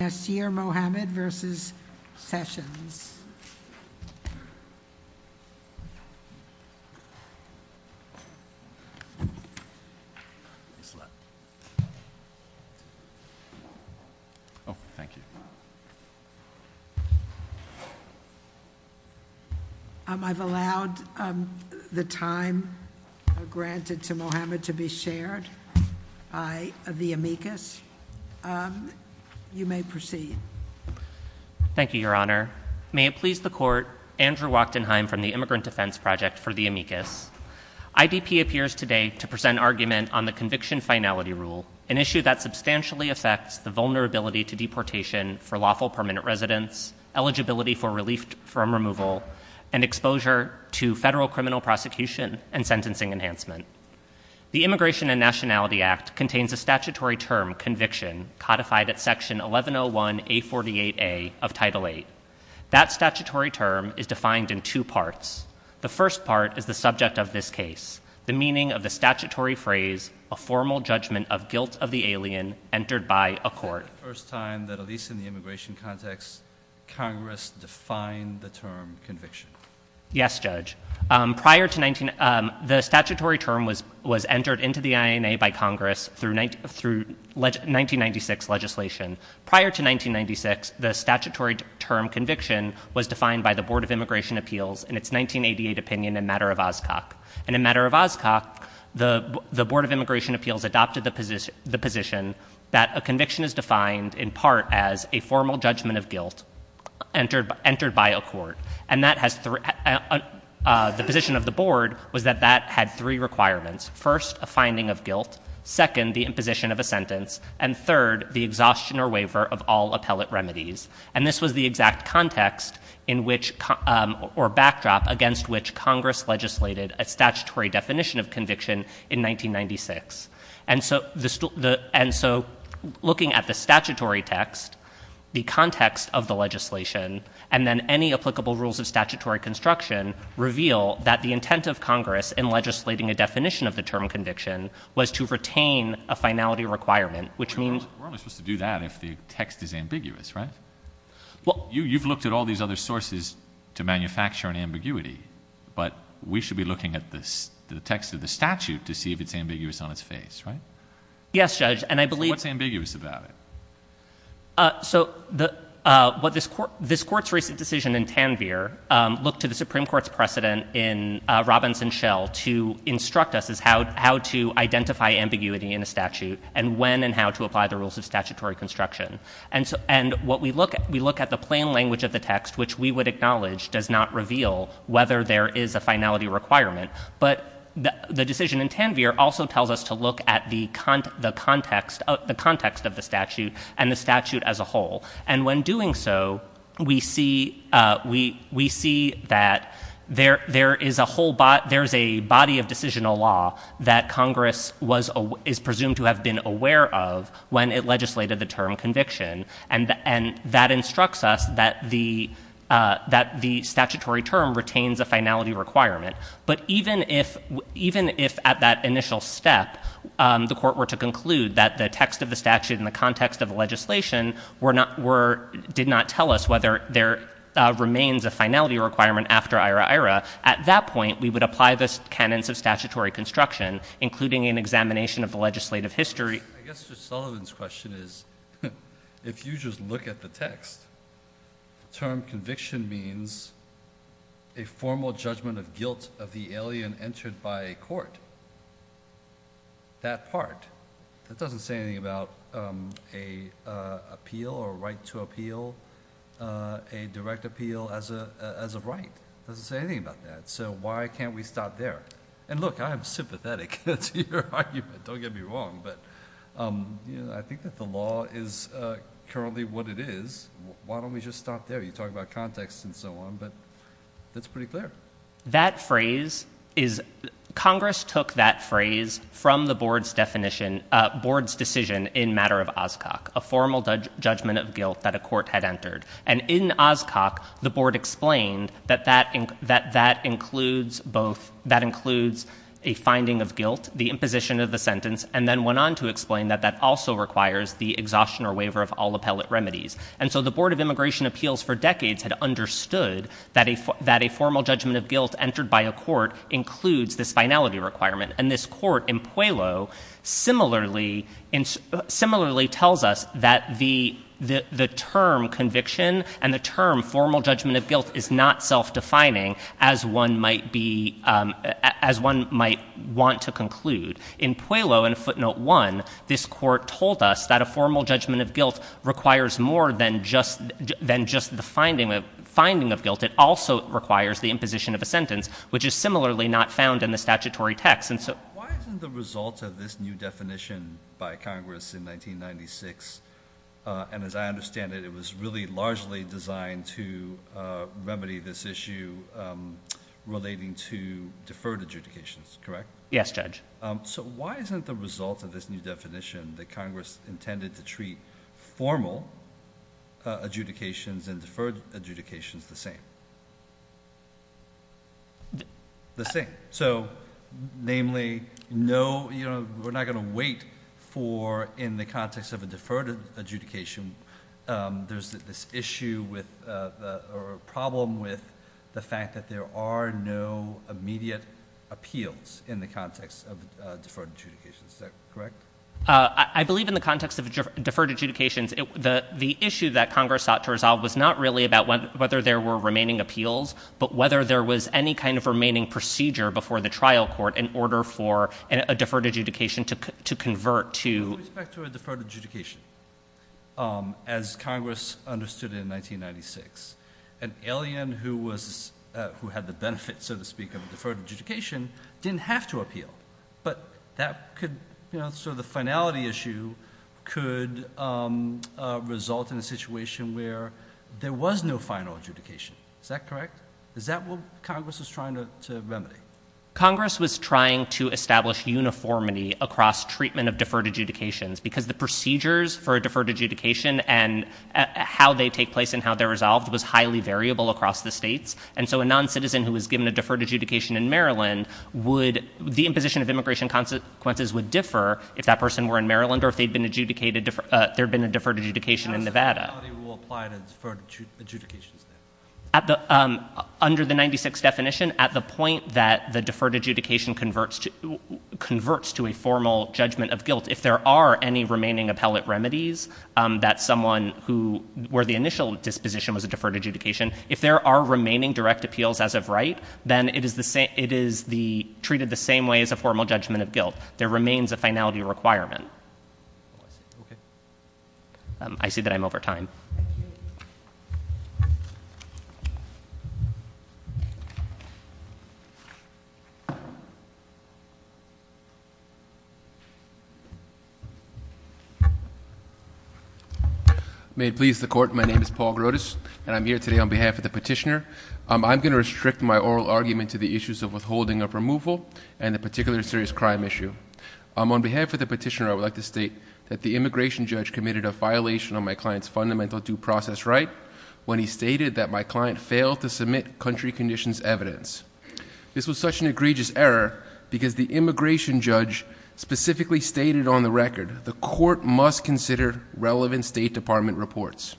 Nasir Mohamed v. Sessions I've allowed the time granted to Mohamed to be shared I of the amicus you may proceed thank you your honor may it please the court Andrew Wachtenheim from the immigrant defense project for the amicus IDP appears today to present argument on the conviction finality rule an issue that substantially affects the vulnerability to deportation for lawful permanent residents eligibility for relief from removal and exposure to federal criminal prosecution and sentencing enhancement the Immigration and Nationality Act contains a statutory term conviction codified at section 1101 a 48a of title 8 that statutory term is defined in two parts the first part is the subject of this case the meaning of the statutory phrase a formal judgment of guilt of the alien entered by a court first time that at least in the immigration context Congress defined the term conviction yes judge prior to 19 the statutory term was was entered into the INA by Congress through night through 1996 legislation prior to 1996 the statutory term conviction was defined by the Board of Immigration Appeals in its 1988 opinion in matter of Oscar and a matter of Oscar the the Board of Immigration Appeals adopted the position the position that a conviction is defined in part as a formal judgment of guilt entered by entered by a court and that has three the position of the board was that that had three requirements first a finding of guilt second the imposition of a sentence and third the exhaustion or waiver of all appellate remedies and this was the exact context in which or backdrop against which Congress legislated a statutory definition of conviction in 1996 and so the and so looking at the statutory text the context of the legislation and then any applicable rules of statutory construction reveal that the intent of Congress in legislating a definition of the term conviction was to retain a finality requirement which means do that if the text is ambiguous right well you you've looked at all these other sources to manufacture an ambiguity but we should be looking at this the text of the statute to see if it's ambiguous on its face right yes judge and I believe it's ambiguous about it so the what this court this court's recent decision in Tanvir look to the Supreme Court's precedent in Robinson Shell to instruct us is how to identify ambiguity in a statute and when and how to apply the rules of statutory construction and so and what we look at we look at the plain language of the text which we would acknowledge does not reveal whether there is a finality requirement but the decision in Tanvir also tells us to look at the con the context of the context of the statute and the statute as a whole and when doing so we see we we see that there there is a whole but there's a body of decisional law that Congress was a is presumed to have been aware of when it legislated the term conviction and and that instructs us that the that the statutory term retains a finality requirement but even if even if at that initial step the court were to conclude that the text of the statute in the context of the legislation we're not were did not tell us whether there remains a finality requirement after IRA at that point we would apply this canons of statutory construction including an examination of the legislative history if you just look at the text term conviction means a formal judgment of guilt of the alien entered by court that part that doesn't say anything about a appeal or right to appeal a direct appeal as a as a right doesn't say anything about that so why can't we stop there and look I'm sympathetic don't get me wrong but I think that the law is currently what it is why don't we just stop there you talk about context and so on but that's pretty clear that phrase is Congress took that phrase from the board's definition board's decision in matter of Oscar a formal judge judgment of guilt that a court had entered and in Oscar the board explained that that ink that that includes both that includes a finding of guilt the imposition of the sentence and then went on to explain that that also requires the exhaustion or waiver of all appellate remedies and so the Board of Immigration Appeals for decades had understood that if that a formal judgment of guilt entered by a court includes this finality requirement and this court in Puello similarly in similarly tells us that the the term conviction and the term formal judgment of guilt is not self-defining as one might be as one might want to conclude in Puello and footnote one this court told us that a formal judgment of guilt requires more than just than just the finding of finding of guilt it also requires the imposition of a sentence which is similarly not found in the statutory text and so the results of this new definition by Congress in 1996 and as I understand it it was really largely designed to remedy this issue relating to deferred adjudications correct yes judge so why isn't the result of this new definition that Congress intended to treat formal adjudications and deferred adjudications the same the same so namely no you know we're not going to wait for in the issue with a problem with the fact that there are no immediate appeals in the context of deferred adjudications correct I believe in the context of deferred adjudications the the issue that Congress sought to resolve was not really about whether there were remaining appeals but whether there was any kind of remaining procedure before the trial court in order for a deferred adjudication to convert to deferred adjudication as Congress understood in 1996 an alien who was who had the benefit so to speak of deferred adjudication didn't have to appeal but that could you know so the finality issue could result in a situation where there was no final adjudication is that correct is that what Congress was trying to remedy Congress was trying to remedy across treatment of deferred adjudications because the procedures for a deferred adjudication and how they take place and how they're resolved was highly variable across the states and so a non-citizen who was given a deferred adjudication in Maryland would the imposition of immigration consequences would differ if that person were in Maryland or if they'd been adjudicated there been a deferred adjudication in Nevada at the under the 96 definition at the point that the deferred adjudication converts to converts to a formal judgment of guilt if there are any remaining appellate remedies that someone who were the initial disposition was a deferred adjudication if there are remaining direct appeals as of right then it is the same it is the treated the same way as a formal judgment of guilt there remains a finality requirement I see that I'm over time may it please the court my name is Paul Grotus and I'm here today on behalf of the petitioner I'm gonna restrict my oral argument to the issues of withholding of removal and the particular serious crime issue I'm on for the petitioner I would like to state that the immigration judge committed a violation on my client's fundamental due process right when he stated that my client failed to submit country conditions evidence this was such an egregious error because the immigration judge specifically stated on the record the court must consider relevant State Department reports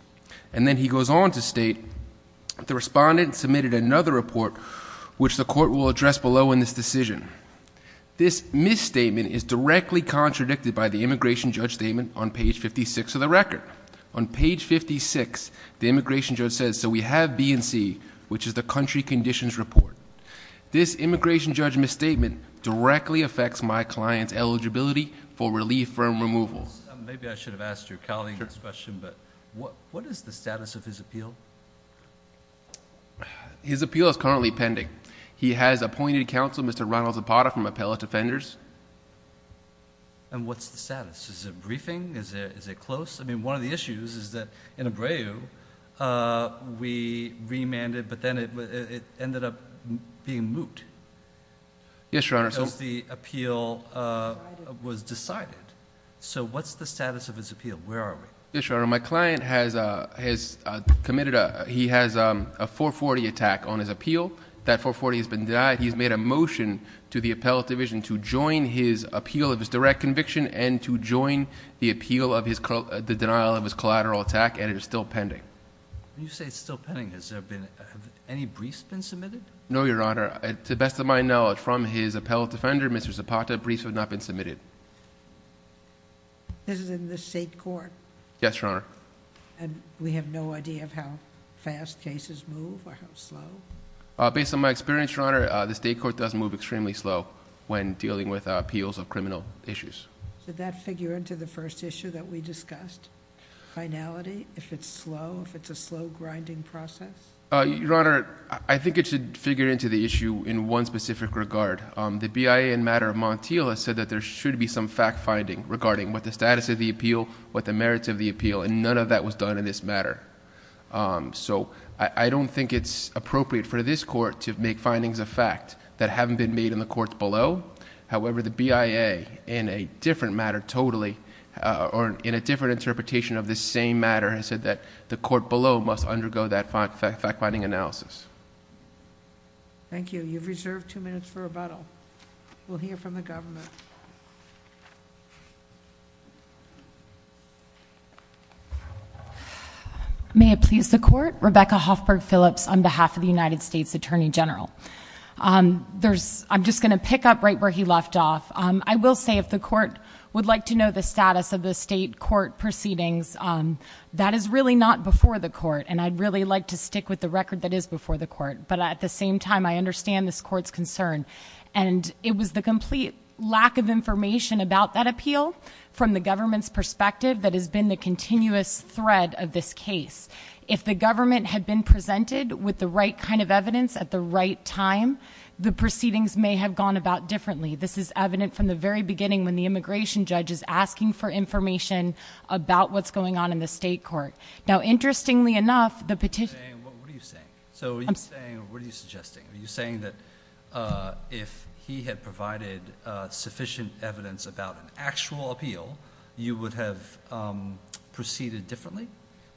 and then he goes on to state the respondent submitted another report which the court will address below in this decision this misstatement is directly contradicted by the immigration judge statement on page 56 of the record on page 56 the immigration judge says so we have B&C which is the country conditions report this immigration judge misstatement directly affects my client's eligibility for relief from removal what what is the status of his appeal his appointed counsel mr. Ronald Zapata from appellate defenders and what's the status is a briefing is it is it close I mean one of the issues is that in a brave we remanded but then it ended up being moot yes your honor so the appeal was decided so what's the status of his appeal where are we sure my client has committed a he has a 440 attack on his appeal that 440 has been denied he's made a motion to the appellate division to join his appeal of his direct conviction and to join the appeal of his call the denial of his collateral attack and it is still pending you say it's still pending has there been any briefs been submitted no your honor at the best of my knowledge from his appellate defender mr. Zapata briefs have not been submitted this is in the state court yes your honor and we have no idea of how fast cases move or how slow based on my experience your honor the state court does move extremely slow when dealing with appeals of criminal issues did that figure into the first issue that we discussed finality if it's slow if it's a slow grinding process your honor I think it should figure into the issue in one specific regard the BIA in matter of Montiel has said that there should be some fact-finding regarding what the merits of the appeal and none of that was done in this matter so I don't think it's appropriate for this court to make findings of fact that haven't been made in the courts below however the BIA in a different matter totally or in a different interpretation of this same matter has said that the court below must undergo that fact-finding analysis thank you you've reserved two minutes we'll hear from the government may it please the court Rebecca Hoffberg Phillips on behalf of the United States Attorney General there's I'm just gonna pick up right where he left off I will say if the court would like to know the status of the state court proceedings that is really not before the court and I'd really like to stick with the record that is before the court but at the same time I understand this court's concern and it was the complete lack of information about that appeal from the government's perspective that has been the continuous thread of this case if the government had been presented with the right kind of evidence at the right time the proceedings may have gone about differently this is evident from the very beginning when the immigration judge is asking for information about what's going on in the state court now saying that if he had provided sufficient evidence about an actual appeal you would have proceeded differently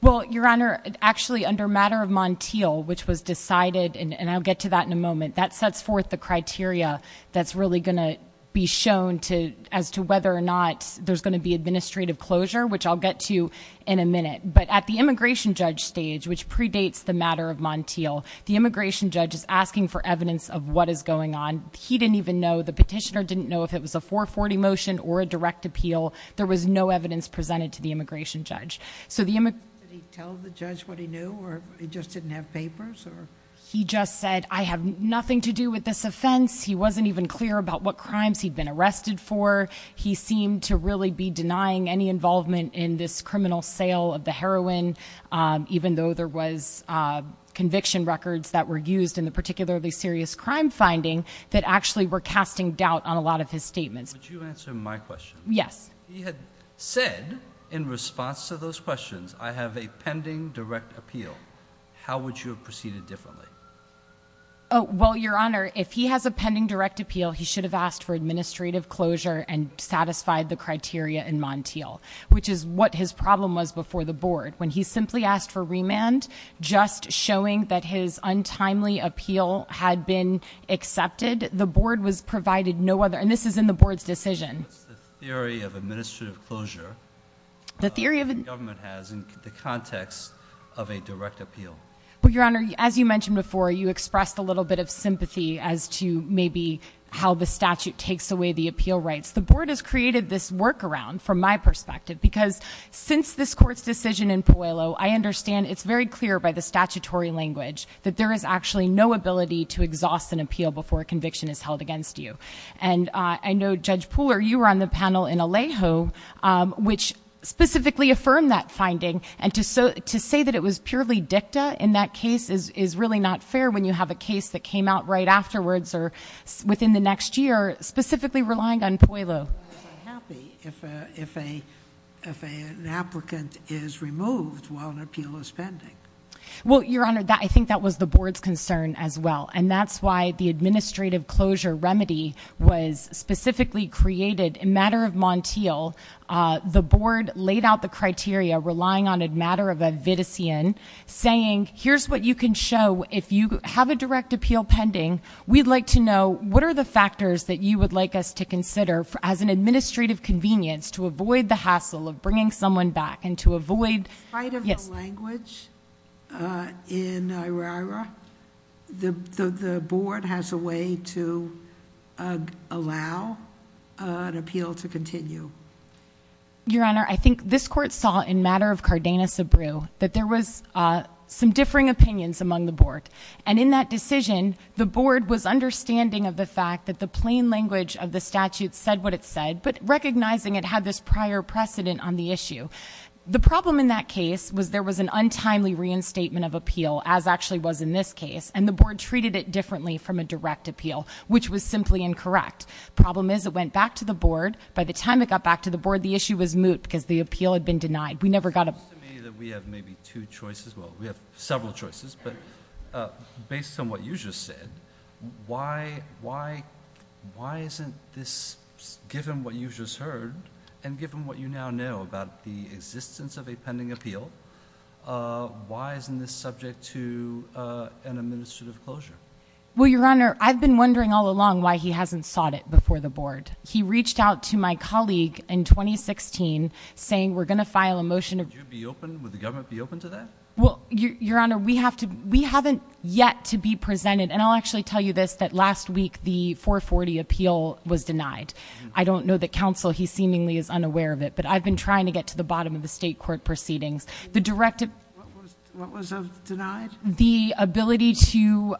well your honor actually under matter of Montiel which was decided and I'll get to that in a moment that sets forth the criteria that's really gonna be shown to as to whether or not there's going to be administrative closure which I'll get to in a minute but at the immigration judge stage which predates the matter of Montiel the immigration judge is asking for evidence of what is going on he didn't even know the petitioner didn't know if it was a 440 motion or a direct appeal there was no evidence presented to the immigration judge so the image he just said I have nothing to do with this offense he wasn't even clear about what crimes he'd been arrested for he seemed to really be denying any involvement in this criminal sale of the heroin even though there was conviction records that were used in the particularly serious crime finding that actually were casting doubt on a lot of his statements yes he had said in response to those questions I have a pending direct appeal how would you have proceeded differently oh well your honor if he has a pending direct appeal he should have asked for his problem was before the board when he simply asked for remand just showing that his untimely appeal had been accepted the board was provided no other and this is in the board's decision the theory of administrative closure the theory of government has in the context of a direct appeal but your honor as you mentioned before you expressed a little bit of sympathy as to maybe how the statute takes away the appeal rights the board has created this workaround from my perspective because since this court's decision in Puello I understand it's very clear by the statutory language that there is actually no ability to exhaust an appeal before a conviction is held against you and I know Judge Pooler you were on the panel in Alejo which specifically affirmed that finding and to so to say that it was purely dicta in that case is is really not fair when you have a case that came out right afterwards or within the next year specifically relying on Puello if a if a if a an applicant is removed while an appeal is pending well your honor that I think that was the board's concern as well and that's why the administrative closure remedy was specifically created a matter of Montiel the board laid out the criteria relying on a matter of a vitician saying here's what you can show if you have a direct appeal pending we'd like to know what are the factors that you would like us to consider for as an administrative convenience to avoid the hassle of bringing someone back and to avoid yes language in the board has a way to allow an appeal to continue your honor I think this court saw in matter of Cardenas a brew that there was some differing opinions among the board and in that decision the board was understanding of the fact that the plain language of the statute said what it said but recognizing it had this prior precedent on the issue the problem in that case was there was an untimely reinstatement of appeal as actually was in this case and the board treated it differently from a direct appeal which was simply incorrect problem is it went back to the board by the time it got back to the board the issue was moot because the appeal had been denied we never got a we have maybe two choices well we have some what you just said why why why isn't this given what you just heard and given what you now know about the existence of a pending appeal why isn't this subject to an administrative closure well your honor I've been wondering all along why he hasn't sought it before the board he reached out to my colleague in 2016 saying we're gonna file a motion of you be open with the actually tell you this that last week the 440 appeal was denied I don't know the council he seemingly is unaware of it but I've been trying to get to the bottom of the state court proceedings the directive the ability to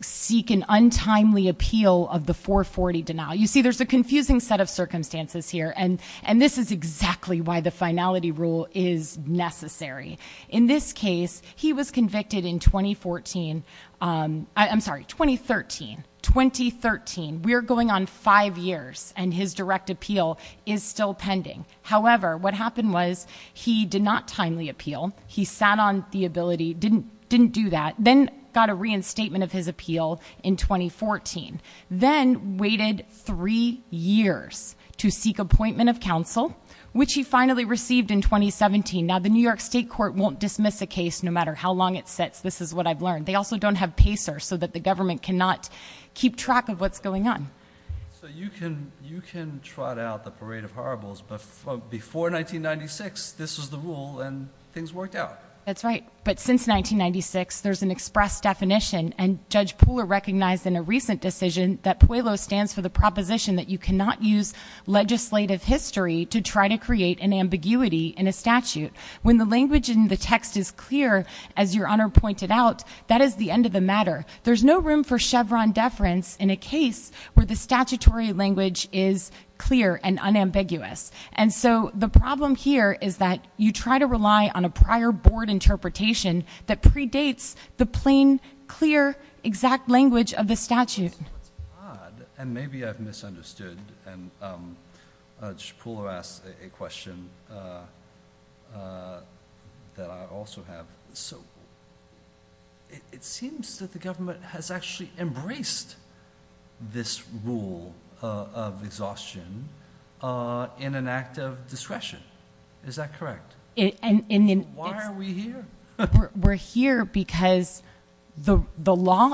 seek an untimely appeal of the 440 denial you see there's a confusing set of circumstances here and and this is exactly why the finality rule is necessary in this case he was convicted in 2014 I'm sorry 2013 2013 we're going on five years and his direct appeal is still pending however what happened was he did not timely appeal he sat on the ability didn't didn't do that then got a reinstatement of his appeal in 2014 then waited three years to seek appointment of counsel which he finally received in 2017 now the New York State Court won't dismiss a case no matter how long it sits this is what I've learned they also don't have pacer so that the government cannot keep track of what's going on so you can you can trot out the parade of horribles but before 1996 this is the rule and things worked out that's right but since 1996 there's an express definition and judge Pooler recognized in a recent decision that Puello stands for the proposition that you cannot use legislative history to try to create an ambiguity in a statute when the language in the text is clear as your honor pointed out that is the end of the matter there's no room for Chevron deference in a case where the statutory language is clear and unambiguous and so the problem here is that you try to rely on a prior board interpretation that maybe I've misunderstood and Pooler asked a question that I also have so it seems that the government has actually embraced this rule of exhaustion in an act of discretion is that correct and in why are we here we're here because the Puello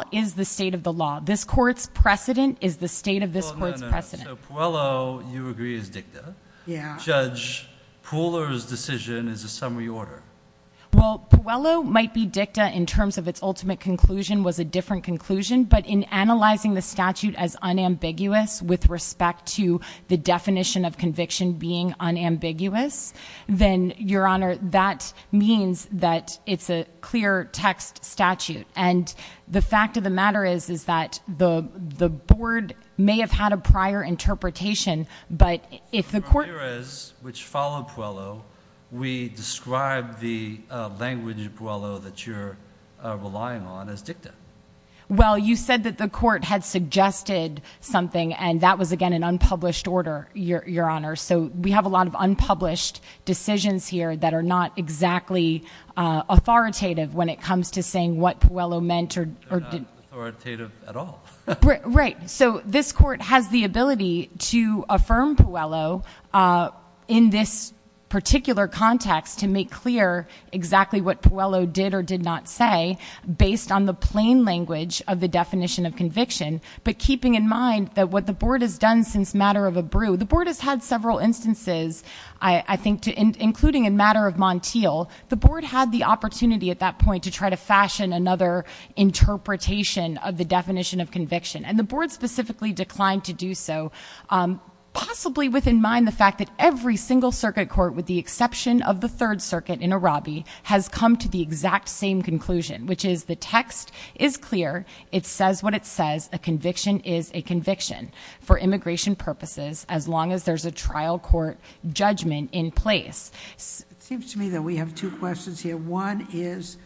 you agree is dicta yeah judge Pooler's decision is a summary order well Puello might be dicta in terms of its ultimate conclusion was a different conclusion but in analyzing the statute as unambiguous with respect to the definition of conviction being unambiguous then your honor that means that it's a clear text statute and the fact of the matter is is that the the board may have had a prior interpretation but if the court which followed Puello we described the language Puello that you're relying on as dicta well you said that the court had suggested something and that was again an unpublished order your honor so we have a lot of unpublished decisions here that are not exactly authoritative when it comes to saying what Puello meant or did authoritative at all right so this court has the ability to affirm Puello in this particular context to make clear exactly what Puello did or did not say based on the plain language of the definition of conviction but keeping in mind that what the board has done since matter of a brew the board has had several instances I think to including in matter of Montiel the board had the opportunity at that point to try to fashion another interpretation of the definition of conviction and the board specifically declined to do so possibly with in mind the fact that every single circuit court with the exception of the Third Circuit in a Robbie has come to the exact same conclusion which is the text is clear it says what it says a conviction is a conviction for immigration purposes as long as there's a trial court judgment in place seems to me that we have two questions here one is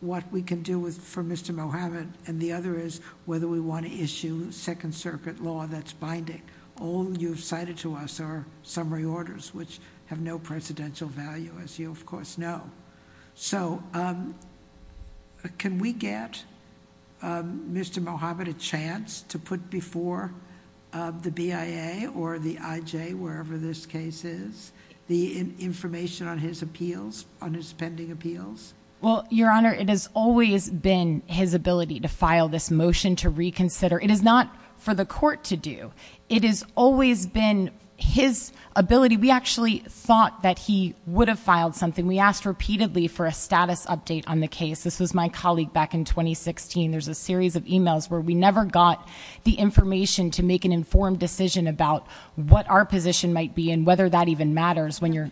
what we can do with for Mr. Mohamed and the other is whether we want to issue second circuit law that's binding all you've cited to us are summary orders which have no presidential value as you of course know so can we get Mr. Mohamed a chance to put before the BIA or the IJ wherever this case is the information on his appeals on his pending appeals well your honor it has always been his ability to file this motion to reconsider it is not for the court to do it is always been his ability we actually thought that he would have filed something we asked repeatedly for a status update on the case this was my colleague back in 2016 there's a series of emails where we never got the information to make an about what our position might be and whether that even matters when you're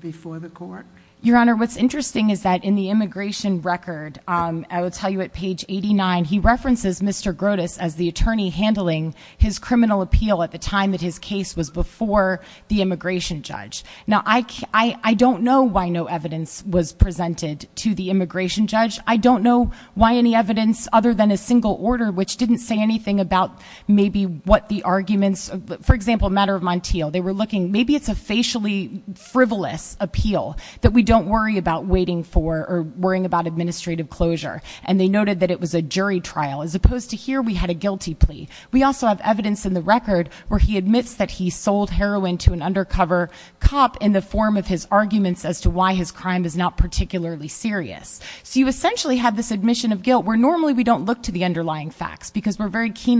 before the court your honor what's interesting is that in the immigration record I would tell you at page 89 he references Mr. Grotus as the attorney handling his criminal appeal at the time that his case was before the immigration judge now I don't know why no evidence was presented to the immigration judge I don't know why any evidence other than a single order which didn't say anything about maybe what the arguments for example matter of Montiel they were looking maybe it's a facially frivolous appeal that we don't worry about waiting for or worrying about administrative closure and they noted that it was a jury trial as opposed to here we had a guilty plea we also have evidence in the record where he admits that he sold heroin to an undercover cop in the form of his arguments as to why his crime is not particularly serious so you essentially have this admission of guilt where normally we don't look to the end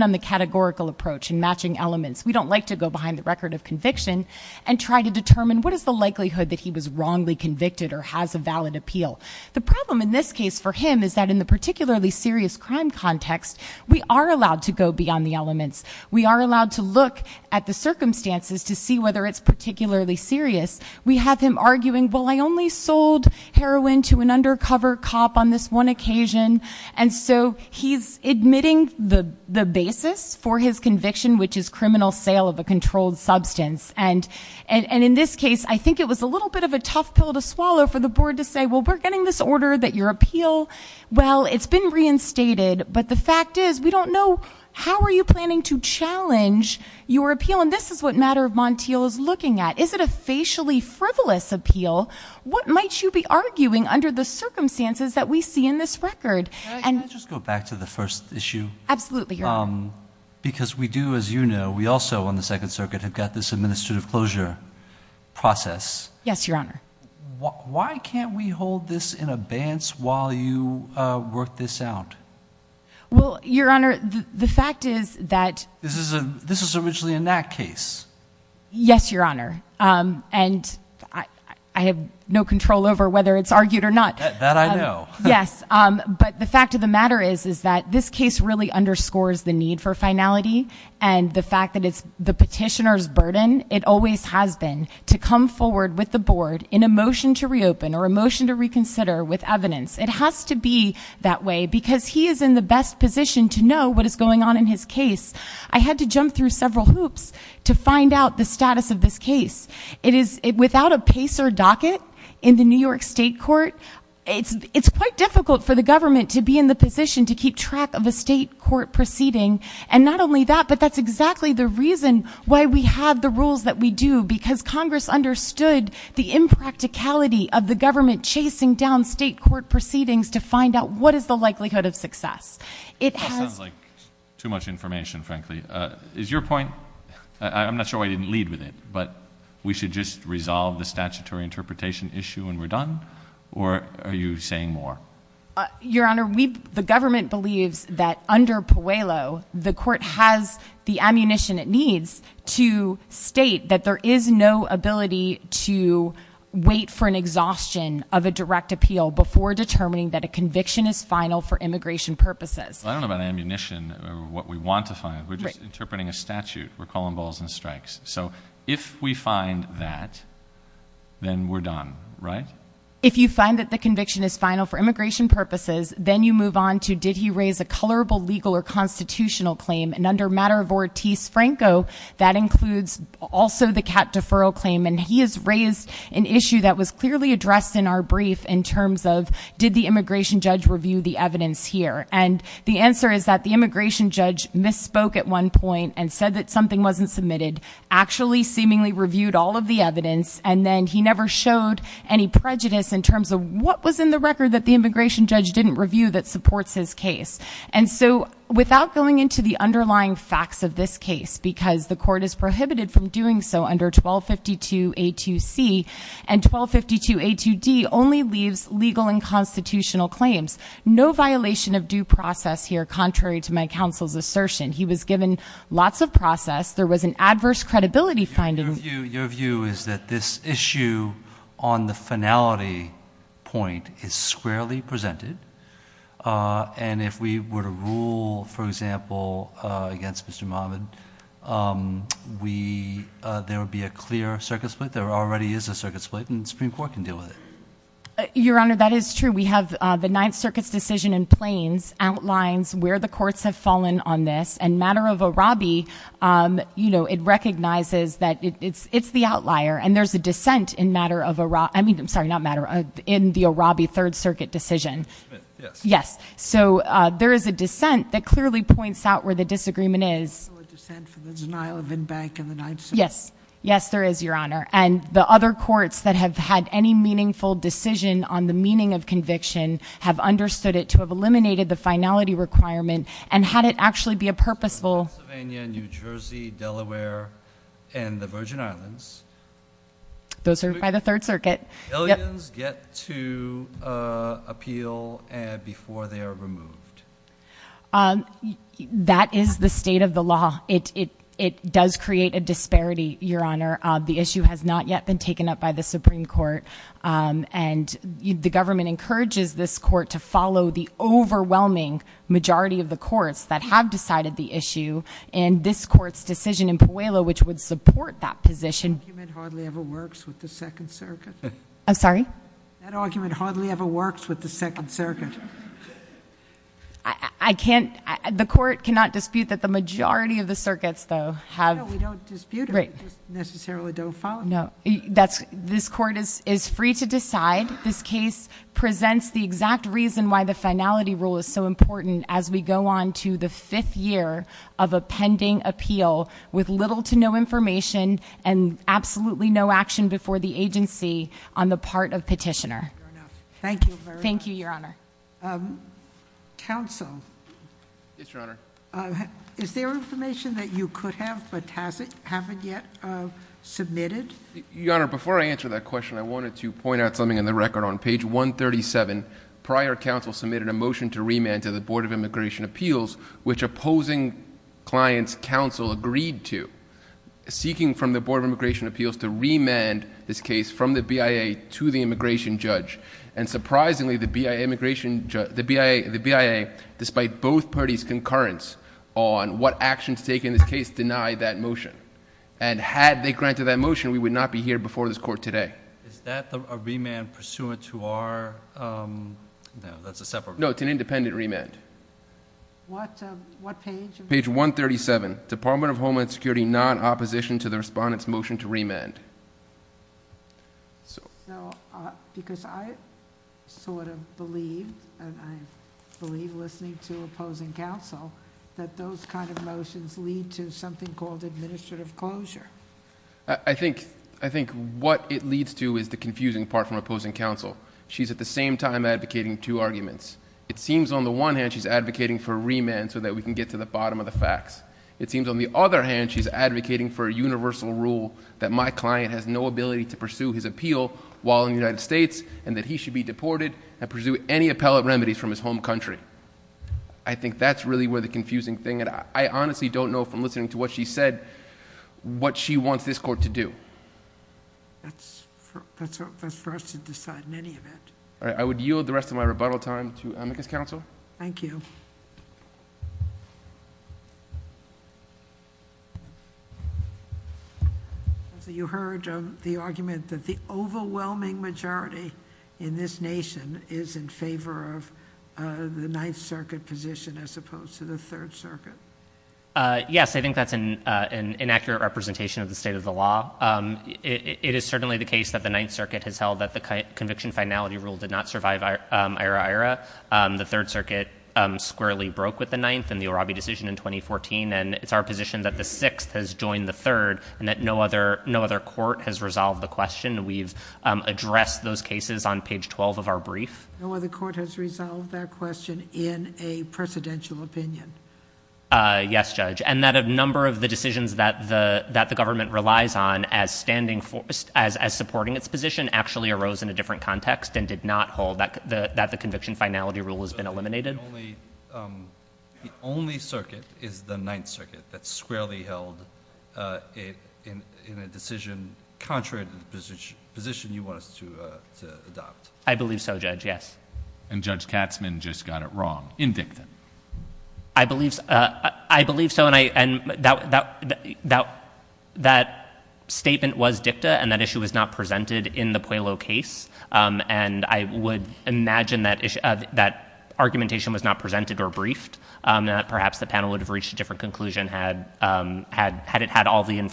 on the categorical approach and matching elements we don't like to go behind the record of conviction and try to determine what is the likelihood that he was wrongly convicted or has a valid appeal the problem in this case for him is that in the particularly serious crime context we are allowed to go beyond the elements we are allowed to look at the circumstances to see whether it's particularly serious we have him arguing well I only sold heroin to an for his conviction which is criminal sale of a controlled substance and and and in this case I think it was a little bit of a tough pill to swallow for the board to say well we're getting this order that your appeal well it's been reinstated but the fact is we don't know how are you planning to challenge your appeal and this is what matter of Montiel is looking at is it a facially frivolous appeal what might you be arguing under the circumstances that we because we do as you know we also on the Second Circuit have got this administrative closure process yes your honor why can't we hold this in a bantz while you work this out well your honor the fact is that this is a this was originally in that case yes your honor and I have no control over whether it's argued or not that I know yes but the fact of the matter is is that this is a case for finality and the fact that it's the petitioners burden it always has been to come forward with the board in a motion to reopen or a motion to reconsider with evidence it has to be that way because he is in the best position to know what is going on in his case I had to jump through several hoops to find out the status of this case it is without a pace or docket in the New York State Court it's it's quite difficult for the government to be in the position to keep track of a state court proceeding and not only that but that's exactly the reason why we have the rules that we do because Congress understood the impracticality of the government chasing down state court proceedings to find out what is the likelihood of success it has like too much information frankly is your point I'm not sure I didn't lead with it but we should just resolve the statutory interpretation issue and we're done or are you saying more your honor we the government believes that under Puello the court has the ammunition it needs to state that there is no ability to wait for an exhaustion of a direct appeal before determining that a conviction is final for immigration purposes I don't know about ammunition what we want to find we're just interpreting a statute we're calling balls and strikes so if we conviction is final for immigration purposes then you move on to did he raise a colorable legal or constitutional claim and under matter of Ortiz Franco that includes also the cat deferral claim and he is raised an issue that was clearly addressed in our brief in terms of did the immigration judge review the evidence here and the answer is that the immigration judge misspoke at one point and said that something wasn't submitted actually seemingly reviewed all of the evidence and then he never showed any prejudice in terms of what was in the record that the immigration judge didn't review that supports his case and so without going into the underlying facts of this case because the court is prohibited from doing so under 1252 a to C and 1252 a to D only leaves legal and constitutional claims no violation of due process here contrary to my counsel's assertion he was given lots of process there was an point is squarely presented and if we were to rule for example against mr. mom and we there would be a clear circuit split there already is a circuit split and Supreme Court can deal with it your honor that is true we have the Ninth Circuit's decision in Plains outlines where the courts have fallen on this and matter of a Robbie you know it recognizes that it's it's the outlier and there's a dissent in matter of Iraq I mean I'm sorry not matter in the Robbie Third Circuit decision yes so there is a dissent that clearly points out where the disagreement is yes yes there is your honor and the other courts that have had any meaningful decision on the meaning of conviction have understood it to have eliminated the finality requirement and had it actually be a those are by the Third Circuit get to appeal and before they are removed that is the state of the law it it it does create a disparity your honor the issue has not yet been taken up by the Supreme Court and the government encourages this court to follow the overwhelming majority of the courts that have decided the issue and this court's decision in Pueblo which would support that position argument hardly ever works with the Second Circuit I'm sorry that argument hardly ever works with the Second Circuit I can't the court cannot dispute that the majority of the circuits though have right necessarily don't follow no that's this court is is free to decide this case presents the exact reason why the finality rule is so important as we go on to the fifth year of a pending appeal with little to no information and absolutely no action before the agency on the part of petitioner thank you thank you your honor counsel is there information that you could have but hasn't haven't yet submitted your honor before I answer that question I wanted to point out something in the record on page 137 prior counsel submitted a motion to remand to the client's counsel agreed to seeking from the Board of Immigration Appeals to remand this case from the BIA to the immigration judge and surprisingly the BIA immigration judge the BIA the BIA despite both parties concurrence on what actions take in this case denied that motion and had they granted that motion we would not be here before this court today is that the remand pursuant to that's a separate note an independent remand what page page 137 Department of Homeland Security non-opposition to the respondents motion to remand so because I sort of believe and I believe listening to opposing counsel that those kind of motions lead to something called administrative closure I think I think it leads to is the confusing part from opposing counsel she's at the same time advocating two arguments it seems on the one hand she's advocating for remand so that we can get to the bottom of the facts it seems on the other hand she's advocating for a universal rule that my client has no ability to pursue his appeal while in the United States and that he should be deported and pursue any appellate remedies from his home country I think that's really where the confusing thing and I honestly don't know from listening to what she said what she wants this court to do I would yield the rest of my rebuttal time to amicus counsel thank you so you heard of the argument that the overwhelming majority in this nation is in favor of the Ninth Circuit position as opposed to the Third Circuit yes I an inaccurate representation of the state of the law it is certainly the case that the Ninth Circuit has held that the conviction finality rule did not survive ira-ira the Third Circuit squarely broke with the ninth and the Irabi decision in 2014 and it's our position that the sixth has joined the third and that no other no other court has resolved the question we've addressed those cases on page 12 of our brief no other court has resolved that question in a presidential opinion yes judge and that a number of the decisions that the that the government relies on as standing forced as as supporting its position actually arose in a different context and did not hold that the that the conviction finality rule has been eliminated the only circuit is the Ninth Circuit that squarely held in a decision contrary to the position you want us to adopt I believe so judge yes and judge Katzmann just got it wrong in dictum I believe I believe so and I and doubt that doubt that statement was dicta and that issue was not presented in the Puello case and I would imagine that that argumentation was not presented or briefed that perhaps the panel would have reached a different conclusion had had had it had all the is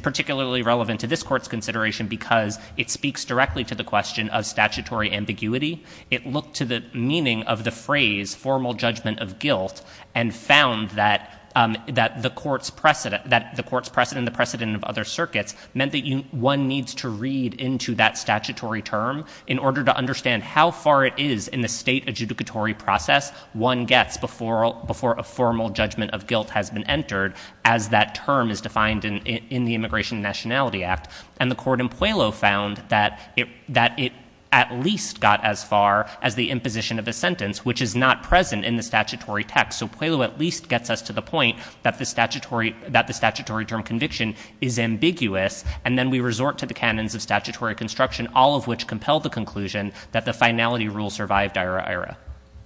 particularly relevant to this court's consideration because it speaks directly to the question of statutory ambiguity it looked to the meaning of the phrase formal judgment of guilt and found that that the court's precedent that the court's precedent the precedent of other circuits meant that you one needs to read into that statutory term in order to understand how far it is in the state adjudicatory process one gets before before a formal judgment of guilt has been entered as that term is defined in the Immigration Nationality Act and the court in Puello found that it that it at least got as far as the imposition of a sentence which is not present in the statutory text so Puello at least gets us to the point that the statutory that the statutory term conviction is ambiguous and then we resort to the canons of statutory construction all of which compelled the conclusion that the finality rule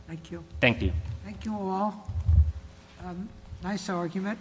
Thank you. Thank you all. Nice argument.